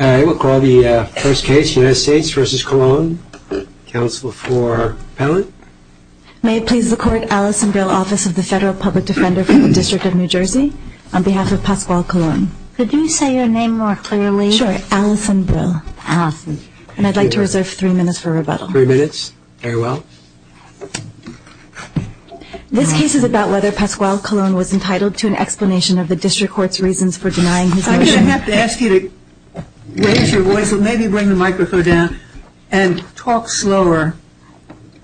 All right, we'll call the first case, United States v. Colon. Counsel for appellant. May it please the court, Allison Brill, Office of the Federal Public Defender for the District of New Jersey, on behalf of Pasquale Colon. Could you say your name more clearly? Sure, Allison Brill. Allison. And I'd like to reserve three minutes for rebuttal. Three minutes, very well. This case is about whether Pasquale Colon was entitled to an explanation of the District Court's reasons for denying his motion. We have to ask you to raise your voice and maybe bring the microphone down and talk slower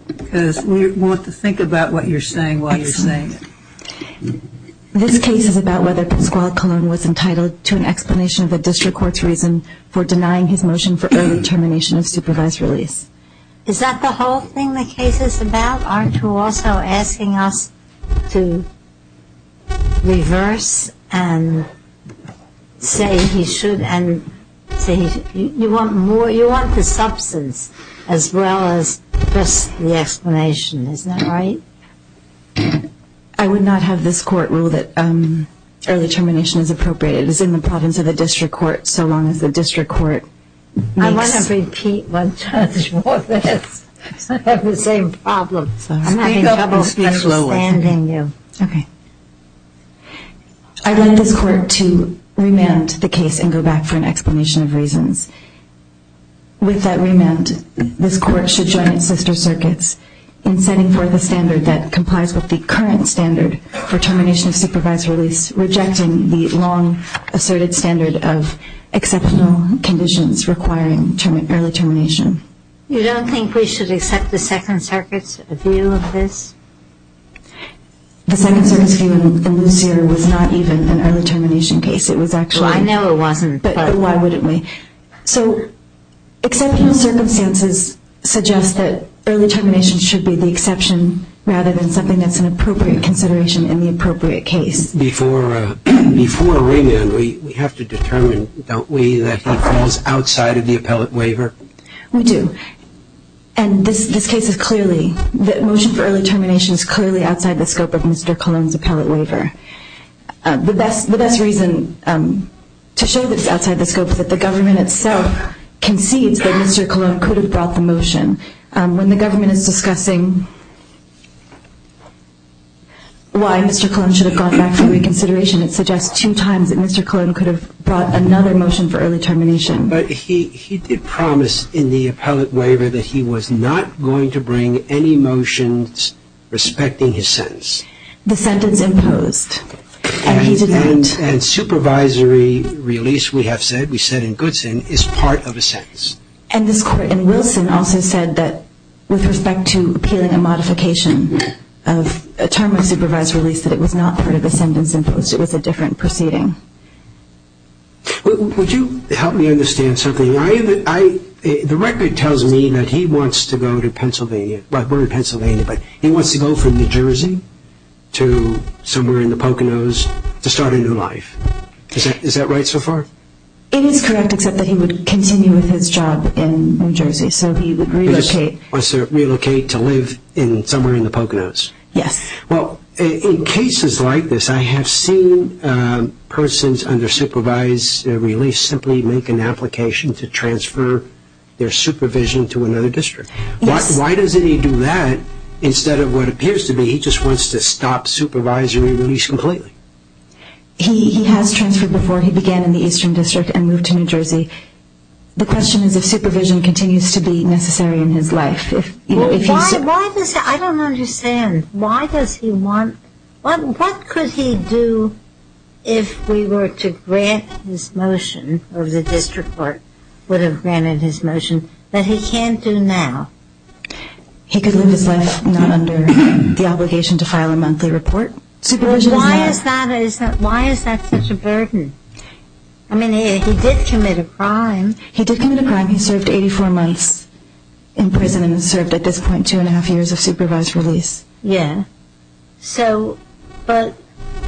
because we want to think about what you're saying while you're saying it. This case is about whether Pasquale Colon was entitled to an explanation of the District Court's reason for denying his motion for early termination of supervised release. Is that the whole thing the case is about? Aren't you also asking us to reverse and say he should and say you want more, you want the substance as well as just the explanation, isn't that right? I would not have this court rule that early termination is appropriate. It is in the province of the District Court so long as the District Court makes... I'm having trouble understanding you. Okay. I'd like this court to remand the case and go back for an explanation of reasons. With that remand, this court should join its sister circuits in setting forth a standard that complies with the current standard for termination of supervised release, rejecting the long-asserted standard of exceptional conditions requiring early termination. You don't think we should accept the Second Circuit's view of this? The Second Circuit's view in Lucere was not even an early termination case. It was actually... Well, I know it wasn't. But why wouldn't we? So exceptional circumstances suggest that early termination should be the exception rather than something that's an appropriate consideration in the appropriate case. Before remand, we have to determine, don't we, that it falls outside of the appellate waiver? We do. And this case is clearly... The motion for early termination is clearly outside the scope of Mr. Colon's appellate waiver. The best reason to show that it's outside the scope is that the government itself concedes that Mr. Colon could have brought the motion. When the government is discussing why Mr. Colon should have gone back for reconsideration, it suggests two times that Mr. Colon could have brought another motion for early termination. But he did promise in the appellate waiver that he was not going to bring any motions respecting his sentence. The sentence imposed. And he did not... And supervisory release, we have said, we said in Goodson, is part of a sentence. And this court in Wilson also said that with respect to appealing a modification of a term of supervisory release, that it was not part of a sentence imposed. It was a different proceeding. Would you help me understand something? The record tells me that he wants to go to Pennsylvania. We're in Pennsylvania, but he wants to go from New Jersey to somewhere in the Poconos to start a new life. Is that right so far? It is correct, except that he would continue with his job in New Jersey, so he would relocate. He just wants to relocate to live somewhere in the Poconos. Yes. Well, in cases like this, I have seen persons under supervised release simply make an application to transfer their supervision to another district. Yes. Why doesn't he do that instead of what appears to be he just wants to stop supervisory release completely? He has transferred before. He began in the Eastern District and moved to New Jersey. The question is if supervision continues to be necessary in his life. I don't understand. What could he do if we were to grant his motion, or the district court would have granted his motion, that he can't do now? He could live his life not under the obligation to file a monthly report. Why is that such a burden? I mean, he did commit a crime. He did commit a crime. He served 84 months in prison and has served at this point two and a half years of supervised release. Yes. So, but,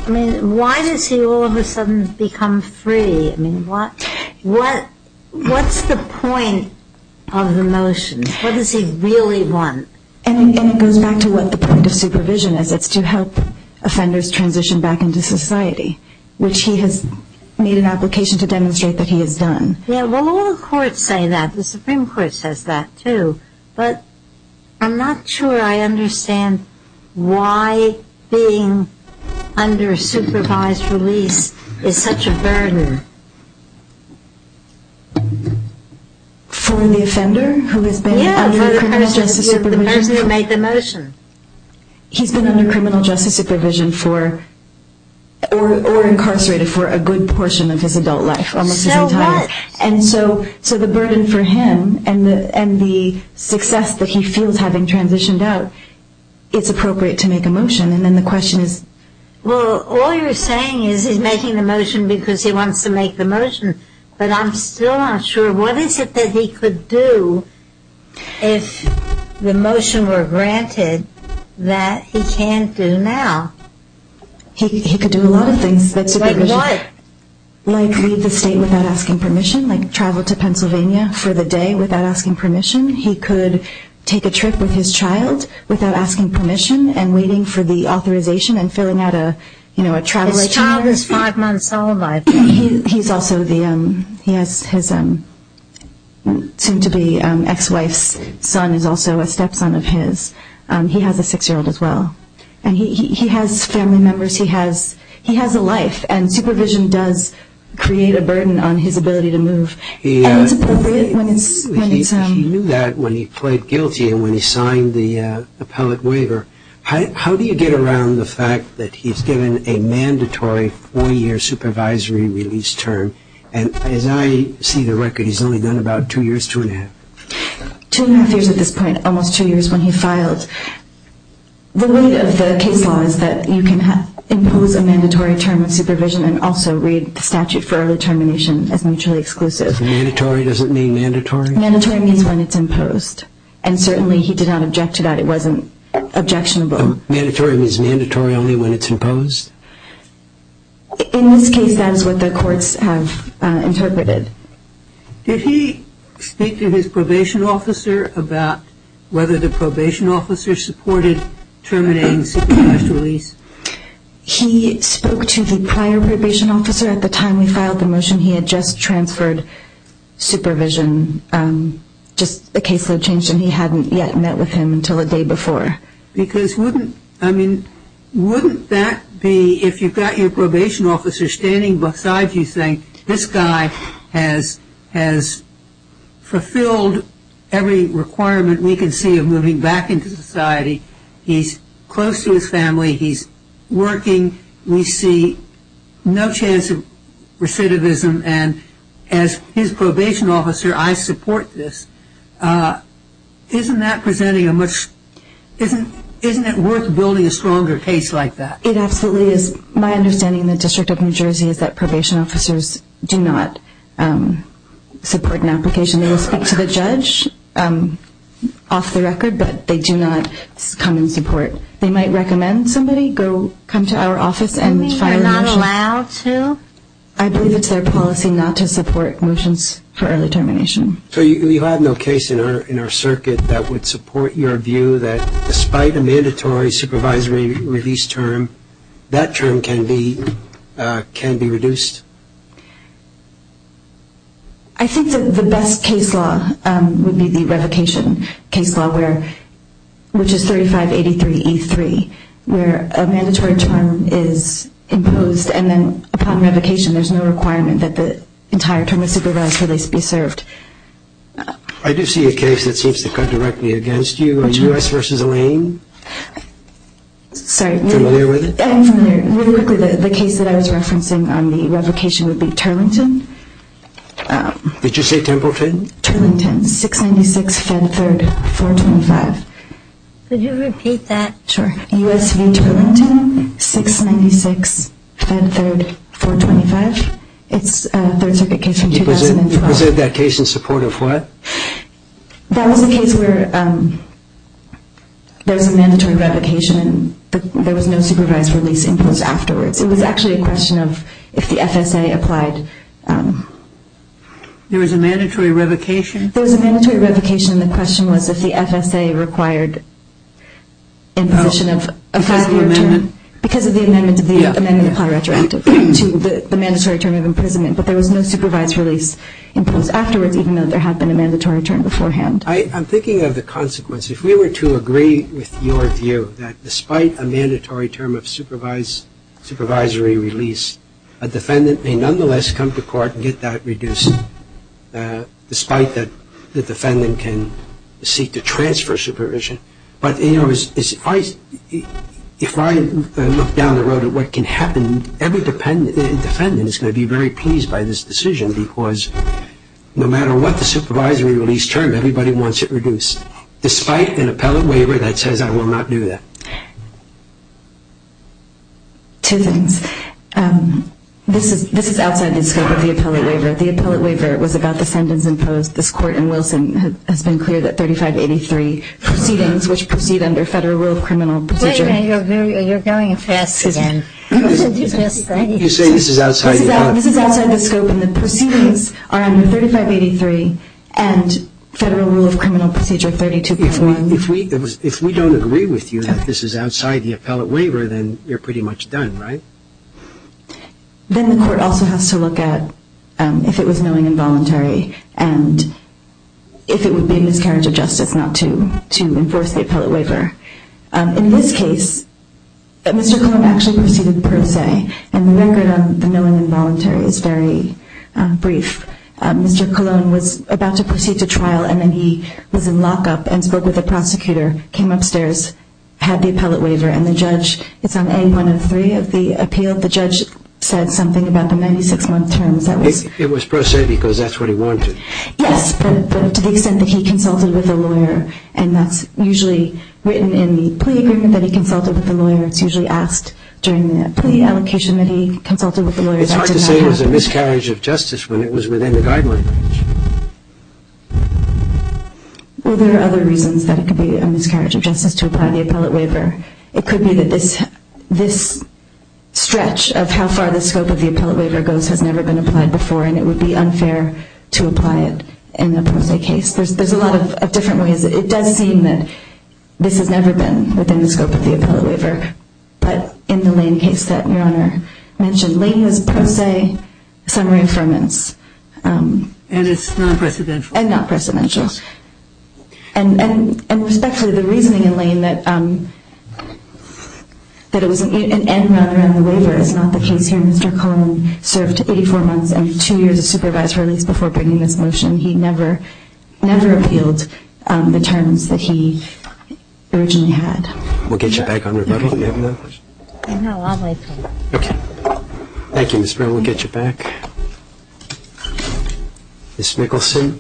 I mean, why does he all of a sudden become free? I mean, what's the point of the motion? What does he really want? And it goes back to what the point of supervision is. It's to help offenders transition back into society, which he has made an application to demonstrate that he has done. Yeah, well, all the courts say that. The Supreme Court says that, too. But I'm not sure I understand why being under supervised release is such a burden. For the offender who has been under criminal justice supervision? Yeah, for the person who made the motion. He's been under criminal justice supervision for, or incarcerated for, a good portion of his adult life, almost his entire life. So what? And so the burden for him and the success that he feels having transitioned out, it's appropriate to make a motion. And then the question is? Well, all you're saying is he's making the motion because he wants to make the motion. But I'm still not sure, what is it that he could do if the motion were granted that he can't do now? He could do a lot of things. Like what? Like leave the state without asking permission, like travel to Pennsylvania for the day without asking permission. He could take a trip with his child without asking permission and waiting for the authorization and filling out a travel agency. His child is five months old. He's also the, he has his soon-to-be ex-wife's son is also a stepson of his. He has a six-year-old as well. And he has family members. He has a life. And supervision does create a burden on his ability to move. He knew that when he pled guilty and when he signed the appellate waiver. How do you get around the fact that he's given a mandatory four-year supervisory release term? And as I see the record, he's only done about two years, two and a half. Two and a half years at this point, almost two years when he filed. The weight of the case law is that you can impose a mandatory term of supervision and also read the statute for early termination as mutually exclusive. Mandatory doesn't mean mandatory? Mandatory means when it's imposed. And certainly he did not object to that. It wasn't objectionable. Mandatory means mandatory only when it's imposed? In this case, that is what the courts have interpreted. Did he speak to his probation officer about whether the probation officer supported terminating supervised release? He spoke to the prior probation officer at the time we filed the motion. He had just transferred supervision. Just the caseload changed and he hadn't yet met with him until the day before. Because wouldn't, I mean, wouldn't that be if you've got your probation officer standing beside you saying, this guy has fulfilled every requirement we can see of moving back into society. He's close to his family. He's working. We see no chance of recidivism. And as his probation officer, I support this. Isn't that presenting a much, isn't it worth building a stronger case like that? It absolutely is. My understanding in the District of New Jersey is that probation officers do not support an application. They will speak to the judge off the record, but they do not come and support. They might recommend somebody come to our office and file a motion. You're not allowed to? I believe it's their policy not to support motions for early termination. So you have no case in our circuit that would support your view that despite a mandatory supervisory release term, that term can be reduced? I think the best case law would be the revocation case law, which is 3583E3, where a mandatory term is imposed and then upon revocation, there's no requirement that the entire term of supervisory release be served. I do see a case that seems to cut directly against you, a U.S. v. Lane. Sorry. Familiar with it? Familiar. Really quickly, the case that I was referencing on the revocation would be Turlington. Did you say Templeton? Turlington, 696 Fed 3rd, 425. Could you repeat that? Sure. U.S. v. Turlington, 696 Fed 3rd, 425. It's a Third Circuit case from 2012. You presented that case in support of what? That was a case where there was a mandatory revocation and there was no supervisory release imposed afterwards. It was actually a question of if the FSA applied. There was a mandatory revocation? There was a mandatory revocation, and the question was if the FSA required imposition of a father term. Because of the amendment? Because of the amendment of the Platt-Retroactive to the mandatory term of imprisonment, but there was no supervisory release imposed afterwards, even though there had been a mandatory term beforehand. I'm thinking of the consequence. If we were to agree with your view that despite a mandatory term of supervisory release, a defendant may nonetheless come to court and get that reduced, despite that the defendant can seek to transfer supervision. But, you know, if I look down the road at what can happen, every defendant is going to be very pleased by this decision because no matter what the supervisory release term, everybody wants it reduced, despite an appellate waiver that says I will not do that. Two things. This is outside the scope of the appellate waiver. The appellate waiver was about the sentence imposed. This Court in Wilson has been clear that 3583 proceedings, which proceed under Federal Rule of Criminal Procedure. Wait a minute. You're going fast again. You say this is outside the scope. This is outside the scope, and the proceedings are under 3583 and Federal Rule of Criminal Procedure 32.1. If we don't agree with you that this is outside the appellate waiver, then you're pretty much done, right? Then the Court also has to look at if it was knowing and voluntary and if it would be a miscarriage of justice not to enforce the appellate waiver. In this case, Mr. Colon actually proceeded per se, and the record on the knowing and voluntary is very brief. Mr. Colon was about to proceed to trial, and then he was in lockup and spoke with a prosecutor, came upstairs, had the appellate waiver, and the judge is on A103 of the appeal. The judge said something about the 96-month terms. It was per se because that's what he wanted. Yes, but to the extent that he consulted with a lawyer, and that's usually written in the plea agreement that he consulted with the lawyer. It's usually asked during the plea allocation that he consulted with the lawyer. It's hard to say it was a miscarriage of justice when it was within the guideline. Well, there are other reasons that it could be a miscarriage of justice to apply the appellate waiver. It could be that this stretch of how far the scope of the appellate waiver goes has never been applied before, and it would be unfair to apply it in a per se case. There's a lot of different ways. It does seem that this has never been within the scope of the appellate waiver, but in the Lane case that Your Honor mentioned, Lane was per se summary affirmance. And it's non-precedential. And non-precedential. And respectfully, the reasoning in Lane that it was an end round around the waiver is not the case here. Mr. Coleman served 84 months and two years as supervisor, at least, before bringing this motion. He never appealed the terms that he originally had. We'll get you back on rebuttal if you have another question. No, I'll make one. Okay. Thank you, Ms. Brown. We'll get you back. Ms. Mickelson.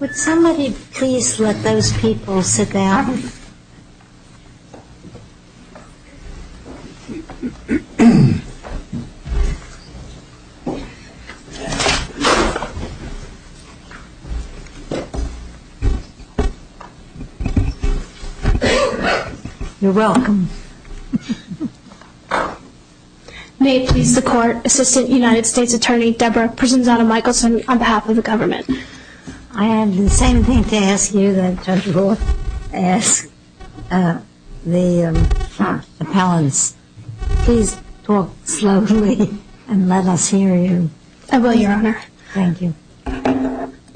Would somebody please let those people sit down? You're welcome. May it please the Court, Assistant United States Attorney Debra Prisanzato-Mickelson on behalf of the government. I have the same thing to ask you that Judge Wood asked the appellants. Please talk slowly and let us hear you. I will, Your Honor. Thank you.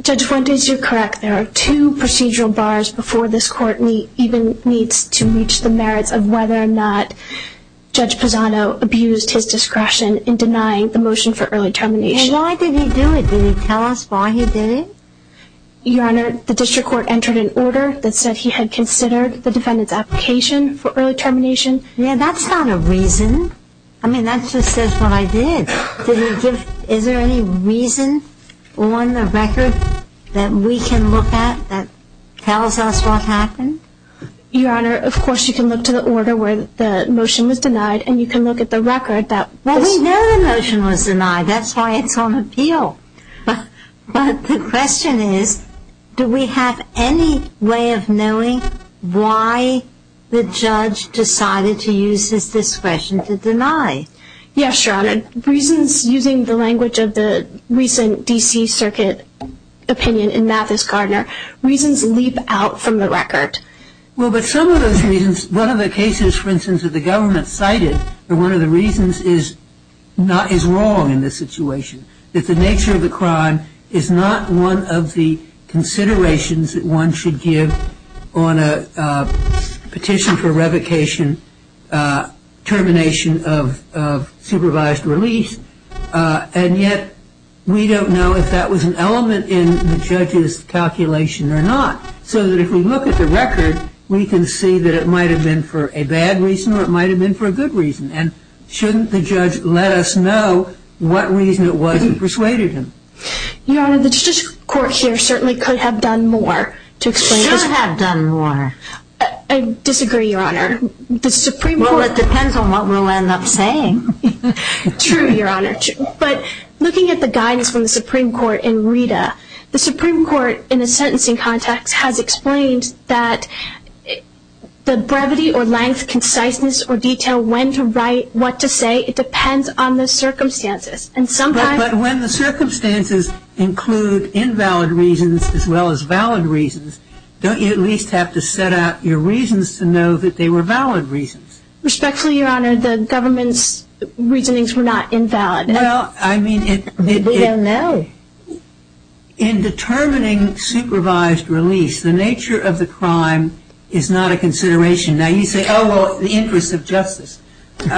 Judge Wood, you're correct. There are two procedural bars before this Court even meets to reach the merits of whether or not Judge Pisano abused his discretion in denying the motion for early termination. And why did he do it? Did he tell us why he did it? Your Honor, the district court entered an order that said he had considered the defendant's application for early termination. Yeah, that's not a reason. I mean, that just says what I did. Is there any reason on the record that we can look at that tells us what happened? Your Honor, of course you can look to the order where the motion was denied, and you can look at the record. Well, we know the motion was denied. That's why it's on appeal. But the question is, do we have any way of knowing why the judge decided to use his discretion to deny? Yes, Your Honor. Reasons, using the language of the recent D.C. Circuit opinion in Mathis-Gardner, reasons leap out from the record. Well, but some of those reasons, one of the cases, for instance, that the government cited, one of the reasons is wrong in this situation, that the nature of the crime is not one of the considerations that one should give on a petition for revocation, termination of supervised release. And yet we don't know if that was an element in the judge's calculation or not. So that if we look at the record, we can see that it might have been for a bad reason or it might have been for a good reason. And shouldn't the judge let us know what reason it was that persuaded him? Your Honor, the Justice Court here certainly could have done more to explain this. Should have done more. I disagree, Your Honor. Well, it depends on what we'll end up saying. True, Your Honor. But looking at the guidance from the Supreme Court in Rita, the Supreme Court, in a sentencing context, has explained that the brevity or length, conciseness or detail, when to write, what to say, it depends on the circumstances. And sometimes... But when the circumstances include invalid reasons as well as valid reasons, don't you at least have to set out your reasons to know that they were valid reasons? Respectfully, Your Honor, the government's reasonings were not invalid. Well, I mean... We don't know. In determining supervised release, the nature of the crime is not a consideration. Now, you say, oh, well, the interest of justice. To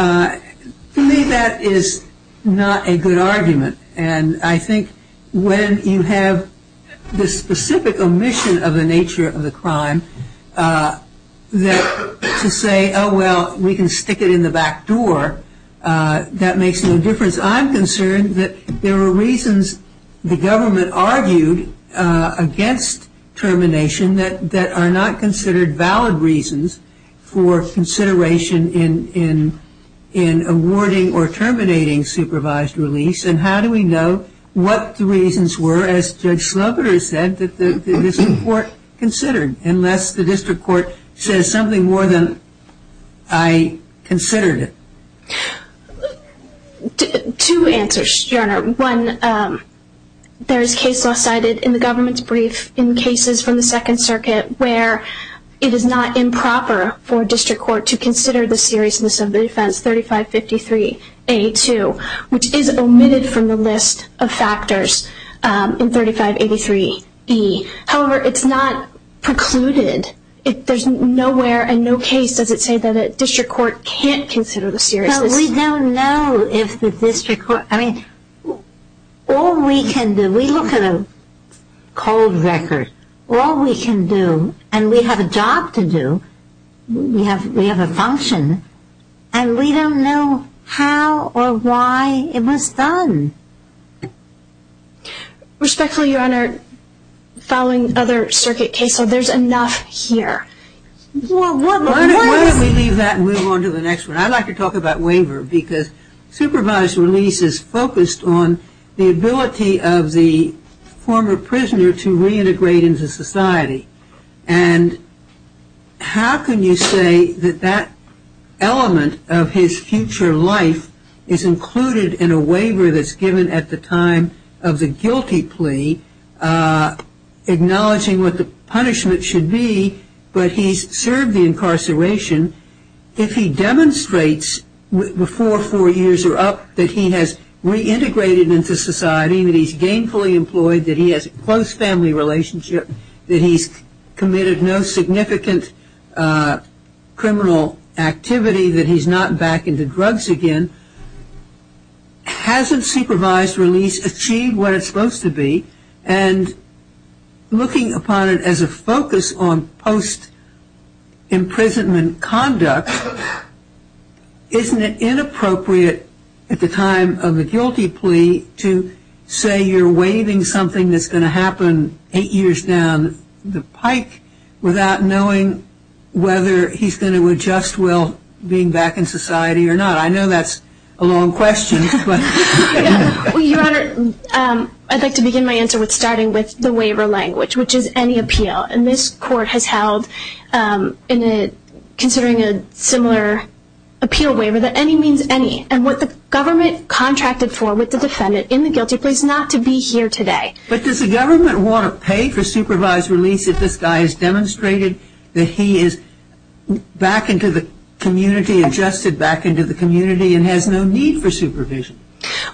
me, that is not a good argument. And I think when you have the specific omission of the nature of the crime, that to say, oh, well, we can stick it in the back door, that makes no difference. As far as I'm concerned, there were reasons the government argued against termination that are not considered valid reasons for consideration in awarding or terminating supervised release. And how do we know what the reasons were, as Judge Sloboda said, that the district court considered, unless the district court says something more than I considered it? Two answers, Your Honor. One, there is case law cited in the government's brief in cases from the Second Circuit where it is not improper for a district court to consider the seriousness of the offense 3553A2, which is omitted from the list of factors in 3583E. However, it's not precluded. If there's nowhere and no case, does it say that a district court can't consider the seriousness? Well, we don't know if the district court, I mean, all we can do, we look at a cold record. All we can do, and we have a job to do, we have a function, and we don't know how or why it was done. Respectfully, Your Honor, following other circuit cases, there's enough here. Why don't we leave that and move on to the next one? I'd like to talk about waiver because supervised release is focused on the ability of the former prisoner to reintegrate into society, and how can you say that that element of his future life is included in a waiver that's given at the time of the guilty plea, acknowledging what the punishment should be, but he's served the incarceration. If he demonstrates before four years are up that he has reintegrated into society, that he's gainfully employed, that he has a close family relationship, that he's committed no significant criminal activity, that he's not back into drugs again, hasn't supervised release achieved what it's supposed to be, and looking upon it as a focus on post-imprisonment conduct, isn't it inappropriate at the time of the guilty plea to say you're waiving something that's going to happen eight years down the pike without knowing whether he's going to adjust well being back in society or not? I know that's a long question. Well, Your Honor, I'd like to begin my answer with starting with the waiver language, which is any appeal. And this Court has held, considering a similar appeal waiver, that any means any. And what the government contracted for with the defendant in the guilty plea is not to be here today. But does the government want to pay for supervised release if this guy has demonstrated that he is back into the community, adjusted back into the community, and has no need for supervision?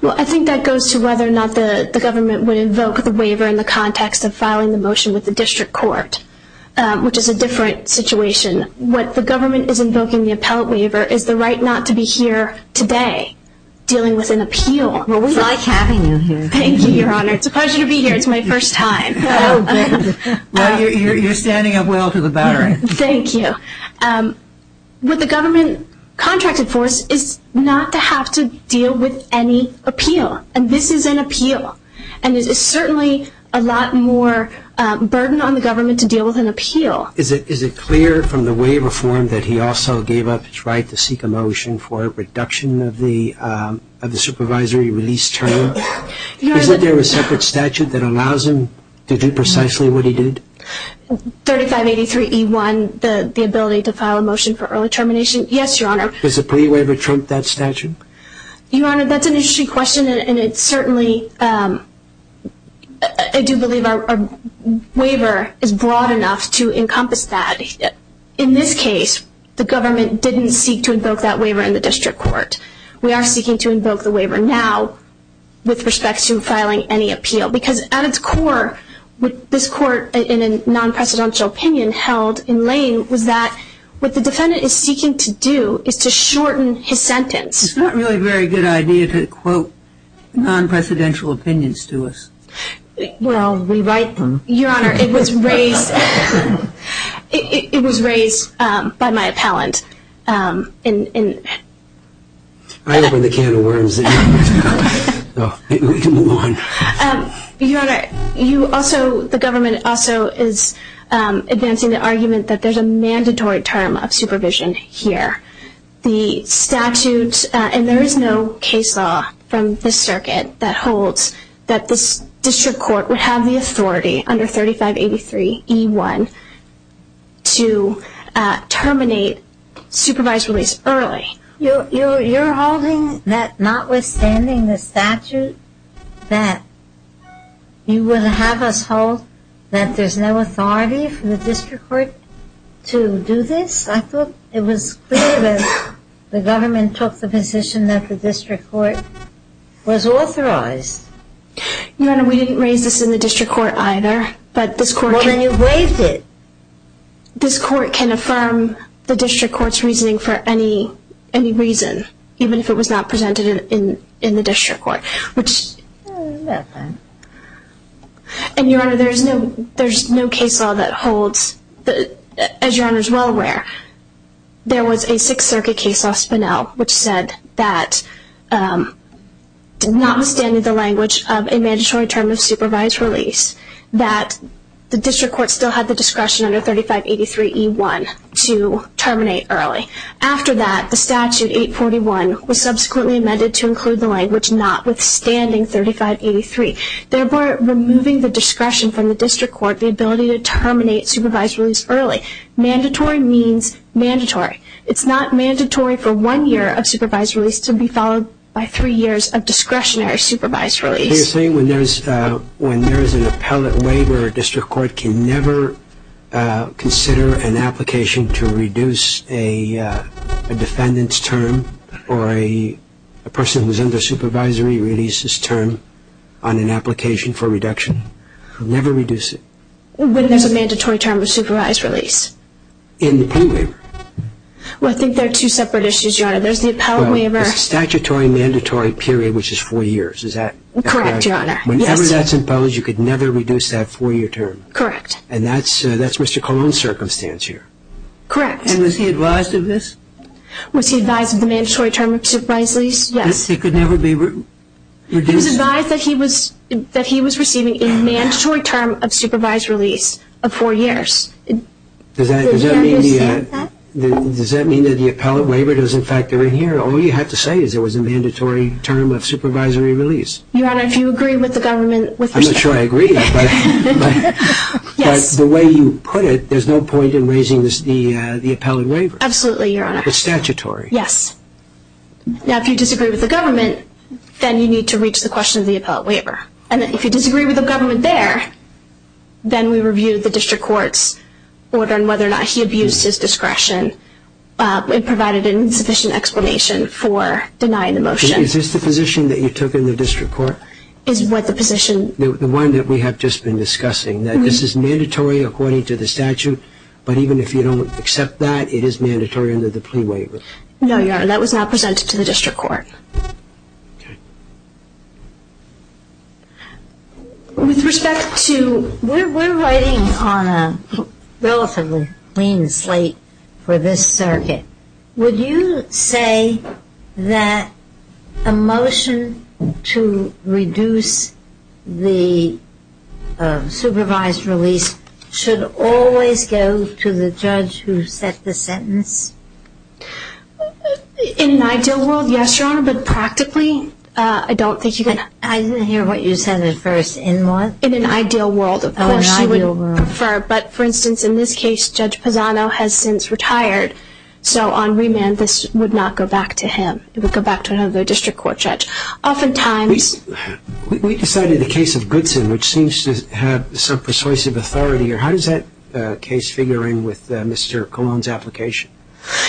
Well, I think that goes to whether or not the government would invoke the waiver in the context of filing the motion with the district court, which is a different situation. What the government is invoking the appellate waiver is the right not to be here today dealing with an appeal. Well, we like having you here. Thank you, Your Honor. It's a pleasure to be here. It's my first time. Oh, good. Well, you're standing up well to the baron. Thank you. What the government contracted for us is not to have to deal with any appeal. And this is an appeal. And it is certainly a lot more burden on the government to deal with an appeal. Is it clear from the waiver form that he also gave up his right to seek a motion for a reduction of the supervisory release term? Is there a separate statute that allows him to do precisely what he did? 3583E1, the ability to file a motion for early termination. Yes, Your Honor. Does the plea waiver trump that statute? Your Honor, that's an interesting question. And it certainly, I do believe our waiver is broad enough to encompass that. In this case, the government didn't seek to invoke that waiver in the district court. We are seeking to invoke the waiver now with respect to filing any appeal because at its core, what this court in a non-presidential opinion held in Lane was that what the defendant is seeking to do is to shorten his sentence. It's not really a very good idea to quote non-presidential opinions to us. Well, we write them. Your Honor, it was raised by my appellant. I opened the can of worms. We can move on. Your Honor, the government also is advancing the argument that there's a mandatory term of supervision here. The statute, and there is no case law from this circuit that holds that this district court would have the authority under 3583E1 to terminate supervised release early. You're holding that notwithstanding the statute that you would have us hold that there's no authority for the district court to do this? I thought it was clear that the government took the position that the district court was authorized. Your Honor, we didn't raise this in the district court either, but this court can – Well, then you've raised it. This court can affirm the district court's reasoning for any reason, even if it was not presented in the district court, which – Nothing. And, Your Honor, there's no case law that holds – as Your Honor is well aware, there was a Sixth Circuit case law, Spinell, which said that notwithstanding the language of a mandatory term of supervised release, that the district court still had the discretion under 3583E1 to terminate early. After that, the statute 841 was subsequently amended to include the language notwithstanding 3583, therefore removing the discretion from the district court, the ability to terminate supervised release early. Mandatory means mandatory. It's not mandatory for one year of supervised release to be followed by three years of discretionary supervised release. So you're saying when there's an appellate waiver, a district court can never consider an application to reduce a defendant's term or a person who's under supervisory releases term on an application for reduction? Never reduce it? When there's a mandatory term of supervised release. In any waiver? Well, I think they're two separate issues, Your Honor. There's the appellate waiver – statutory mandatory period, which is four years. Is that correct? Correct, Your Honor. Whenever that's imposed, you could never reduce that four-year term? Correct. And that's Mr. Colon's circumstance here? Correct. And was he advised of this? Was he advised of the mandatory term of supervised release? Yes. It could never be reduced? He was advised that he was receiving a mandatory term of supervised release of four years. Does that mean that the appellate waiver doesn't factor in here? All you have to say is it was a mandatory term of supervisory release. Your Honor, if you agree with the government – I'm not sure I agree, but the way you put it, there's no point in raising the appellate waiver. Absolutely, Your Honor. It's statutory. Yes. Now, if you disagree with the government, then you need to reach the question of the appellate waiver. And if you disagree with the government there, then we review the district court's order on whether or not he abused his discretion and provided an insufficient explanation for denying the motion. Is this the position that you took in the district court? Is what the position – The one that we have just been discussing, that this is mandatory according to the statute, but even if you don't accept that, it is mandatory under the plea waiver. No, Your Honor. That was not presented to the district court. Okay. With respect to – we're writing on a relatively clean slate for this circuit. Would you say that a motion to reduce the supervised release should always go to the judge who set the sentence? In an ideal world, yes, Your Honor. But practically, I don't think you can – I didn't hear what you said at first. In what? In an ideal world, of course, you would prefer. Oh, in an ideal world. But, for instance, in this case, Judge Pisano has since retired. So on remand, this would not go back to him. It would go back to another district court judge. Oftentimes – We decided the case of Goodson, which seems to have some persuasive authority. How does that case figure in with Mr. Colon's application?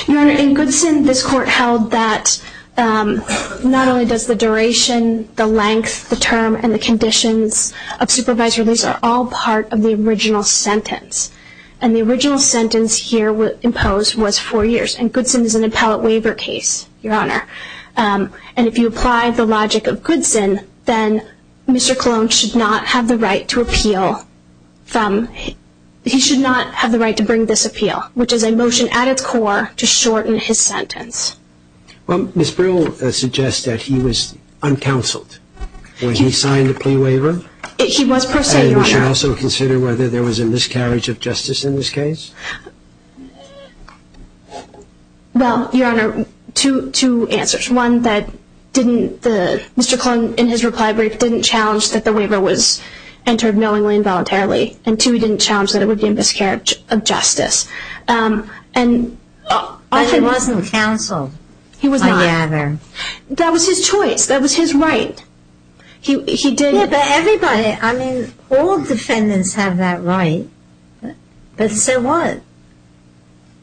Your Honor, in Goodson, this court held that not only does the duration, the length, the term, and the conditions of supervised release are all part of the original sentence. And the original sentence here imposed was four years. And Goodson is an appellate waiver case, Your Honor. And if you apply the logic of Goodson, then Mr. Colon should not have the right to appeal from – he should not have the right to bring this appeal, which is a motion at its core to shorten his sentence. Well, Ms. Brill suggests that he was uncounseled when he signed the plea waiver. He was, per se, Your Honor. And we should also consider whether there was a miscarriage of justice in this case. Well, Your Honor, two answers. One, that didn't – Mr. Colon, in his reply brief, didn't challenge that the waiver was entered knowingly and voluntarily. And two, he didn't challenge that it would be a miscarriage of justice. And I think – But he wasn't counseled, I gather. That was his choice. That was his right. He didn't – Yeah, but everybody – I mean, all defendants have that right. But so what?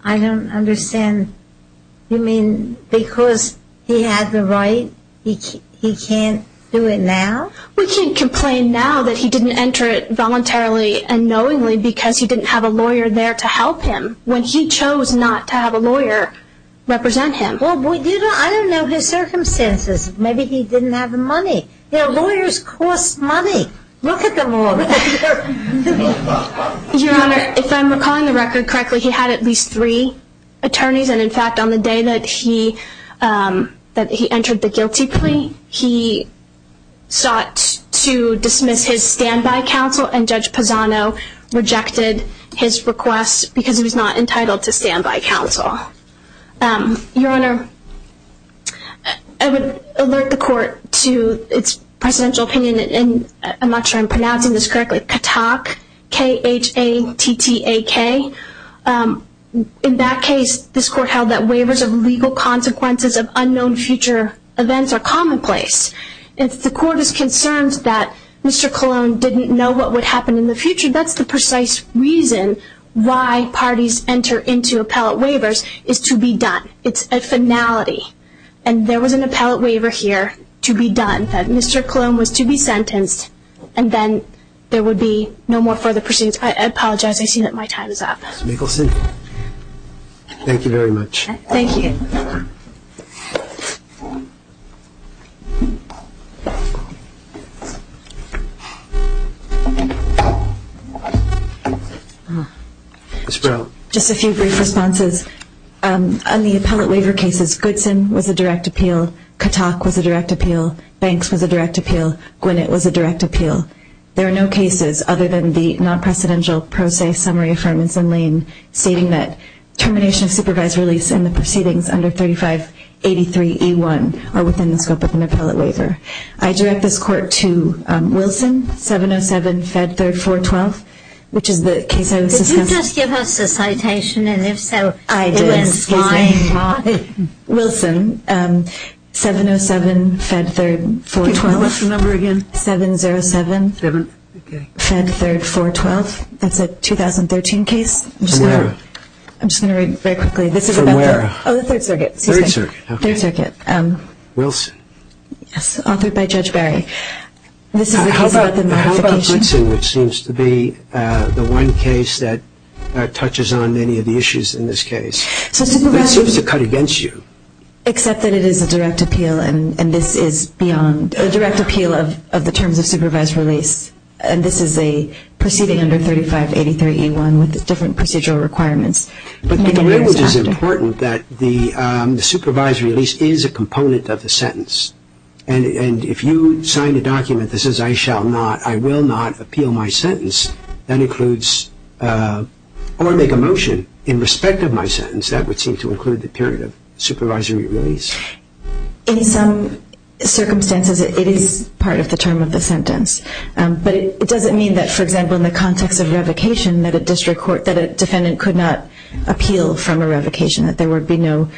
I don't understand. You mean because he had the right, he can't do it now? We can't complain now that he didn't enter it voluntarily and knowingly because he didn't have a lawyer there to help him when he chose not to have a lawyer represent him. Well, I don't know his circumstances. Maybe he didn't have the money. You know, lawyers cost money. Look at them all. Your Honor, if I'm recalling the record correctly, he had at least three attorneys. And, in fact, on the day that he entered the guilty plea, he sought to dismiss his standby counsel, and Judge Pisano rejected his request because he was not entitled to standby counsel. Your Honor, I would alert the Court to its presidential opinion, and I'm not sure I'm pronouncing this correctly, Khatak, K-H-A-T-T-A-K. In that case, this Court held that waivers of legal consequences of unknown future events are commonplace. If the Court is concerned that Mr. Colon didn't know what would happen in the future, that's the precise reason why parties enter into appellate waivers is to be done. It's a finality. And there was an appellate waiver here to be done, that Mr. Colon was to be sentenced, and then there would be no more further proceedings. I apologize. I see that my time is up. Ms. Mikkelson, thank you very much. Thank you. Ms. Brown. Just a few brief responses. On the appellate waiver cases, Goodson was a direct appeal, Khatak was a direct appeal, Banks was a direct appeal, Gwinnett was a direct appeal. There are no cases other than the non-presidential pro se summary affirmance in Lane stating that termination of supervised release and the proceedings under 3583E1 are within the scope of an appellate waiver. I direct this Court to Wilson, 707-Fed3-412, which is the case I was discussing. Could you just give us the citation, and if so, it was fine. Wilson, 707-Fed3-412. What's the number again? 707-Fed3-412. That's a 2013 case. From where? I'm just going to read very quickly. From where? Oh, the Third Circuit. Third Circuit, okay. Third Circuit. Wilson. Yes, authored by Judge Barry. This is the case about the modification. How about Goodson, which seems to be the one case that touches on many of the issues in this case? It seems to cut against you. Except that it is a direct appeal, and this is beyond. A direct appeal of the terms of supervised release, and this is a proceeding under 3583E1 with different procedural requirements. But the language is important that the supervised release is a component of the sentence, and if you sign the document that says, I shall not, I will not appeal my sentence, that includes or make a motion in respect of my sentence, that would seem to include the period of supervisory release. In some circumstances, it is part of the term of the sentence. But it doesn't mean that, for example, in the context of revocation, that a district court, that a defendant could not appeal from a revocation, that there would be no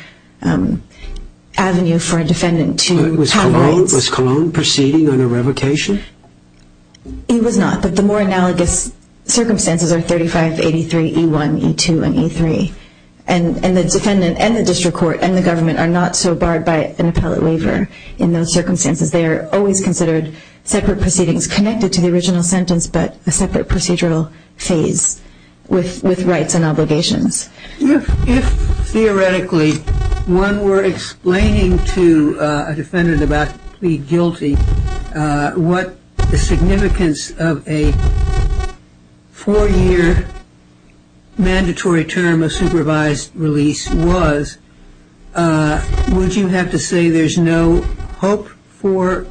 avenue for a defendant to have rights. Was Cologne proceeding on a revocation? It was not. But the more analogous circumstances are 3583E1, E2, and E3. And the defendant and the district court and the government are not so barred by an appellate waiver in those circumstances. They are always considered separate proceedings connected to the original sentence, but a separate procedural phase with rights and obligations. If, theoretically, one were explaining to a defendant about being guilty, what the significance of a four-year mandatory term of supervised release was, would you have to say there's no hope for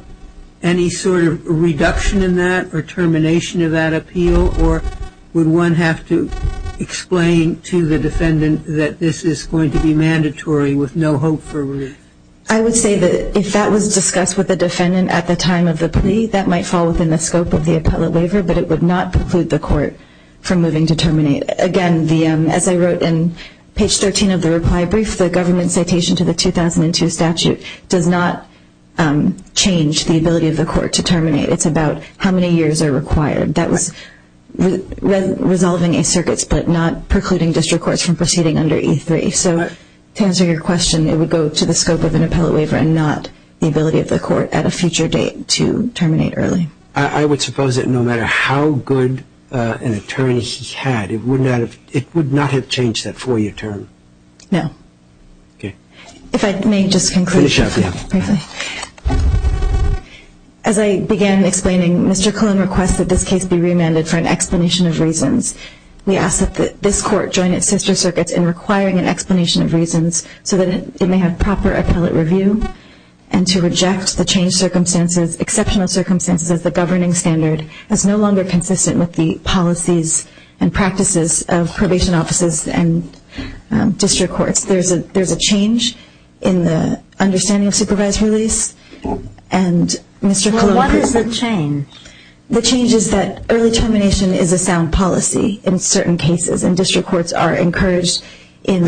any sort of reduction in that or termination of that appeal? Or would one have to explain to the defendant that this is going to be mandatory with no hope for relief? I would say that if that was discussed with the defendant at the time of the plea, that might fall within the scope of the appellate waiver, but it would not preclude the court from moving to terminate. Again, as I wrote in page 13 of the reply brief, the government citation to the 2002 statute does not change the ability of the court to terminate. It's about how many years are required. That was resolving a circuit split, not precluding district courts from proceeding under E3. So to answer your question, it would go to the scope of an appellate waiver and not the ability of the court at a future date to terminate early. I would suppose that no matter how good an attorney he had, it would not have changed that four-year term. No. If I may just conclude briefly. Finish up, yeah. As I began explaining, Mr. Cullen requested this case be remanded for an explanation of reasons. We ask that this court join its sister circuits in requiring an explanation of reasons so that it may have proper appellate review and to reject the changed exceptional circumstances as the governing standard as no longer consistent with the policies and practices of probation offices and district courts. There's a change in the understanding of supervised release. And Mr. Cullen... What is the change? The change is that early termination is a sound policy in certain cases and district courts are encouraged in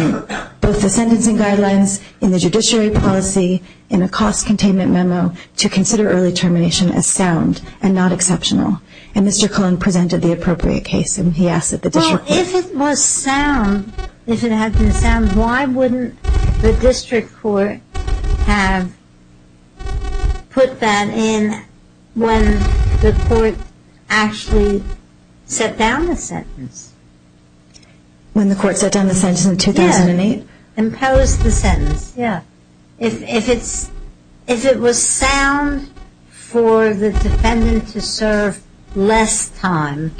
both the sentencing guidelines, in the judiciary policy, in a cost containment memo to consider early termination as sound and not exceptional. And Mr. Cullen presented the appropriate case and he asked that the district court... Well, if it was sound, if it had been sound, why wouldn't the district court have put that in when the court actually set down the sentence? When the court set down the sentence in 2008? Yeah. Imposed the sentence. Yeah. If it was sound for the defendant to serve less time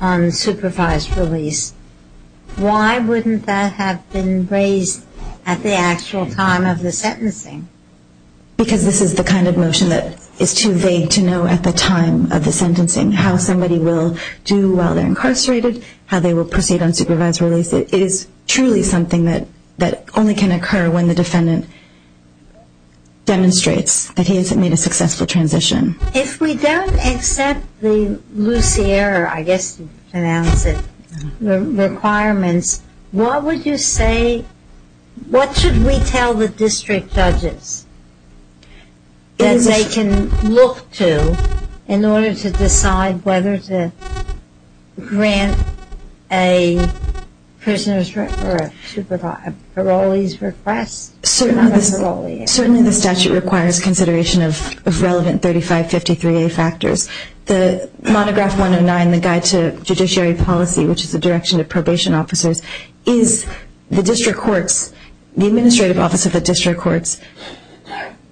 on supervised release, why wouldn't that have been raised at the actual time of the sentencing? Because this is the kind of motion that is too vague to know at the time of the sentencing, how somebody will do while they're incarcerated, how they will proceed on supervised release. It is truly something that only can occur when the defendant demonstrates that he has made a successful transition. If we don't accept the Lucier, I guess you pronounce it, requirements, what would you say, what should we tell the district judges that they can look to in order to decide whether to grant a prisoner's or parolee's request? Certainly the statute requires consideration of relevant 3553A factors. The monograph 109, the Guide to Judiciary Policy, which is the direction of probation officers, is the district courts, the administrative office of the district courts,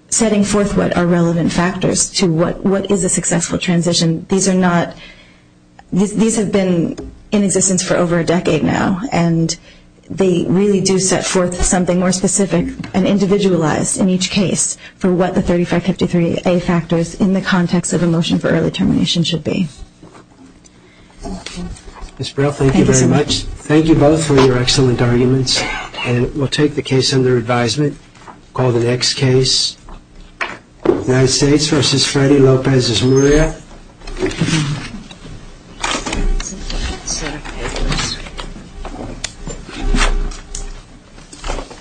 setting forth what are relevant factors to what is a successful transition. These are not, these have been in existence for over a decade now and they really do set forth something more specific and individualized in each case for what the 3553A factors in the context of a motion for early termination should be. Ms. Brill, thank you very much. Thank you both for your excellent arguments. And we'll take the case under advisement, call the next case. United States v. Freddie Lopez-Azurea.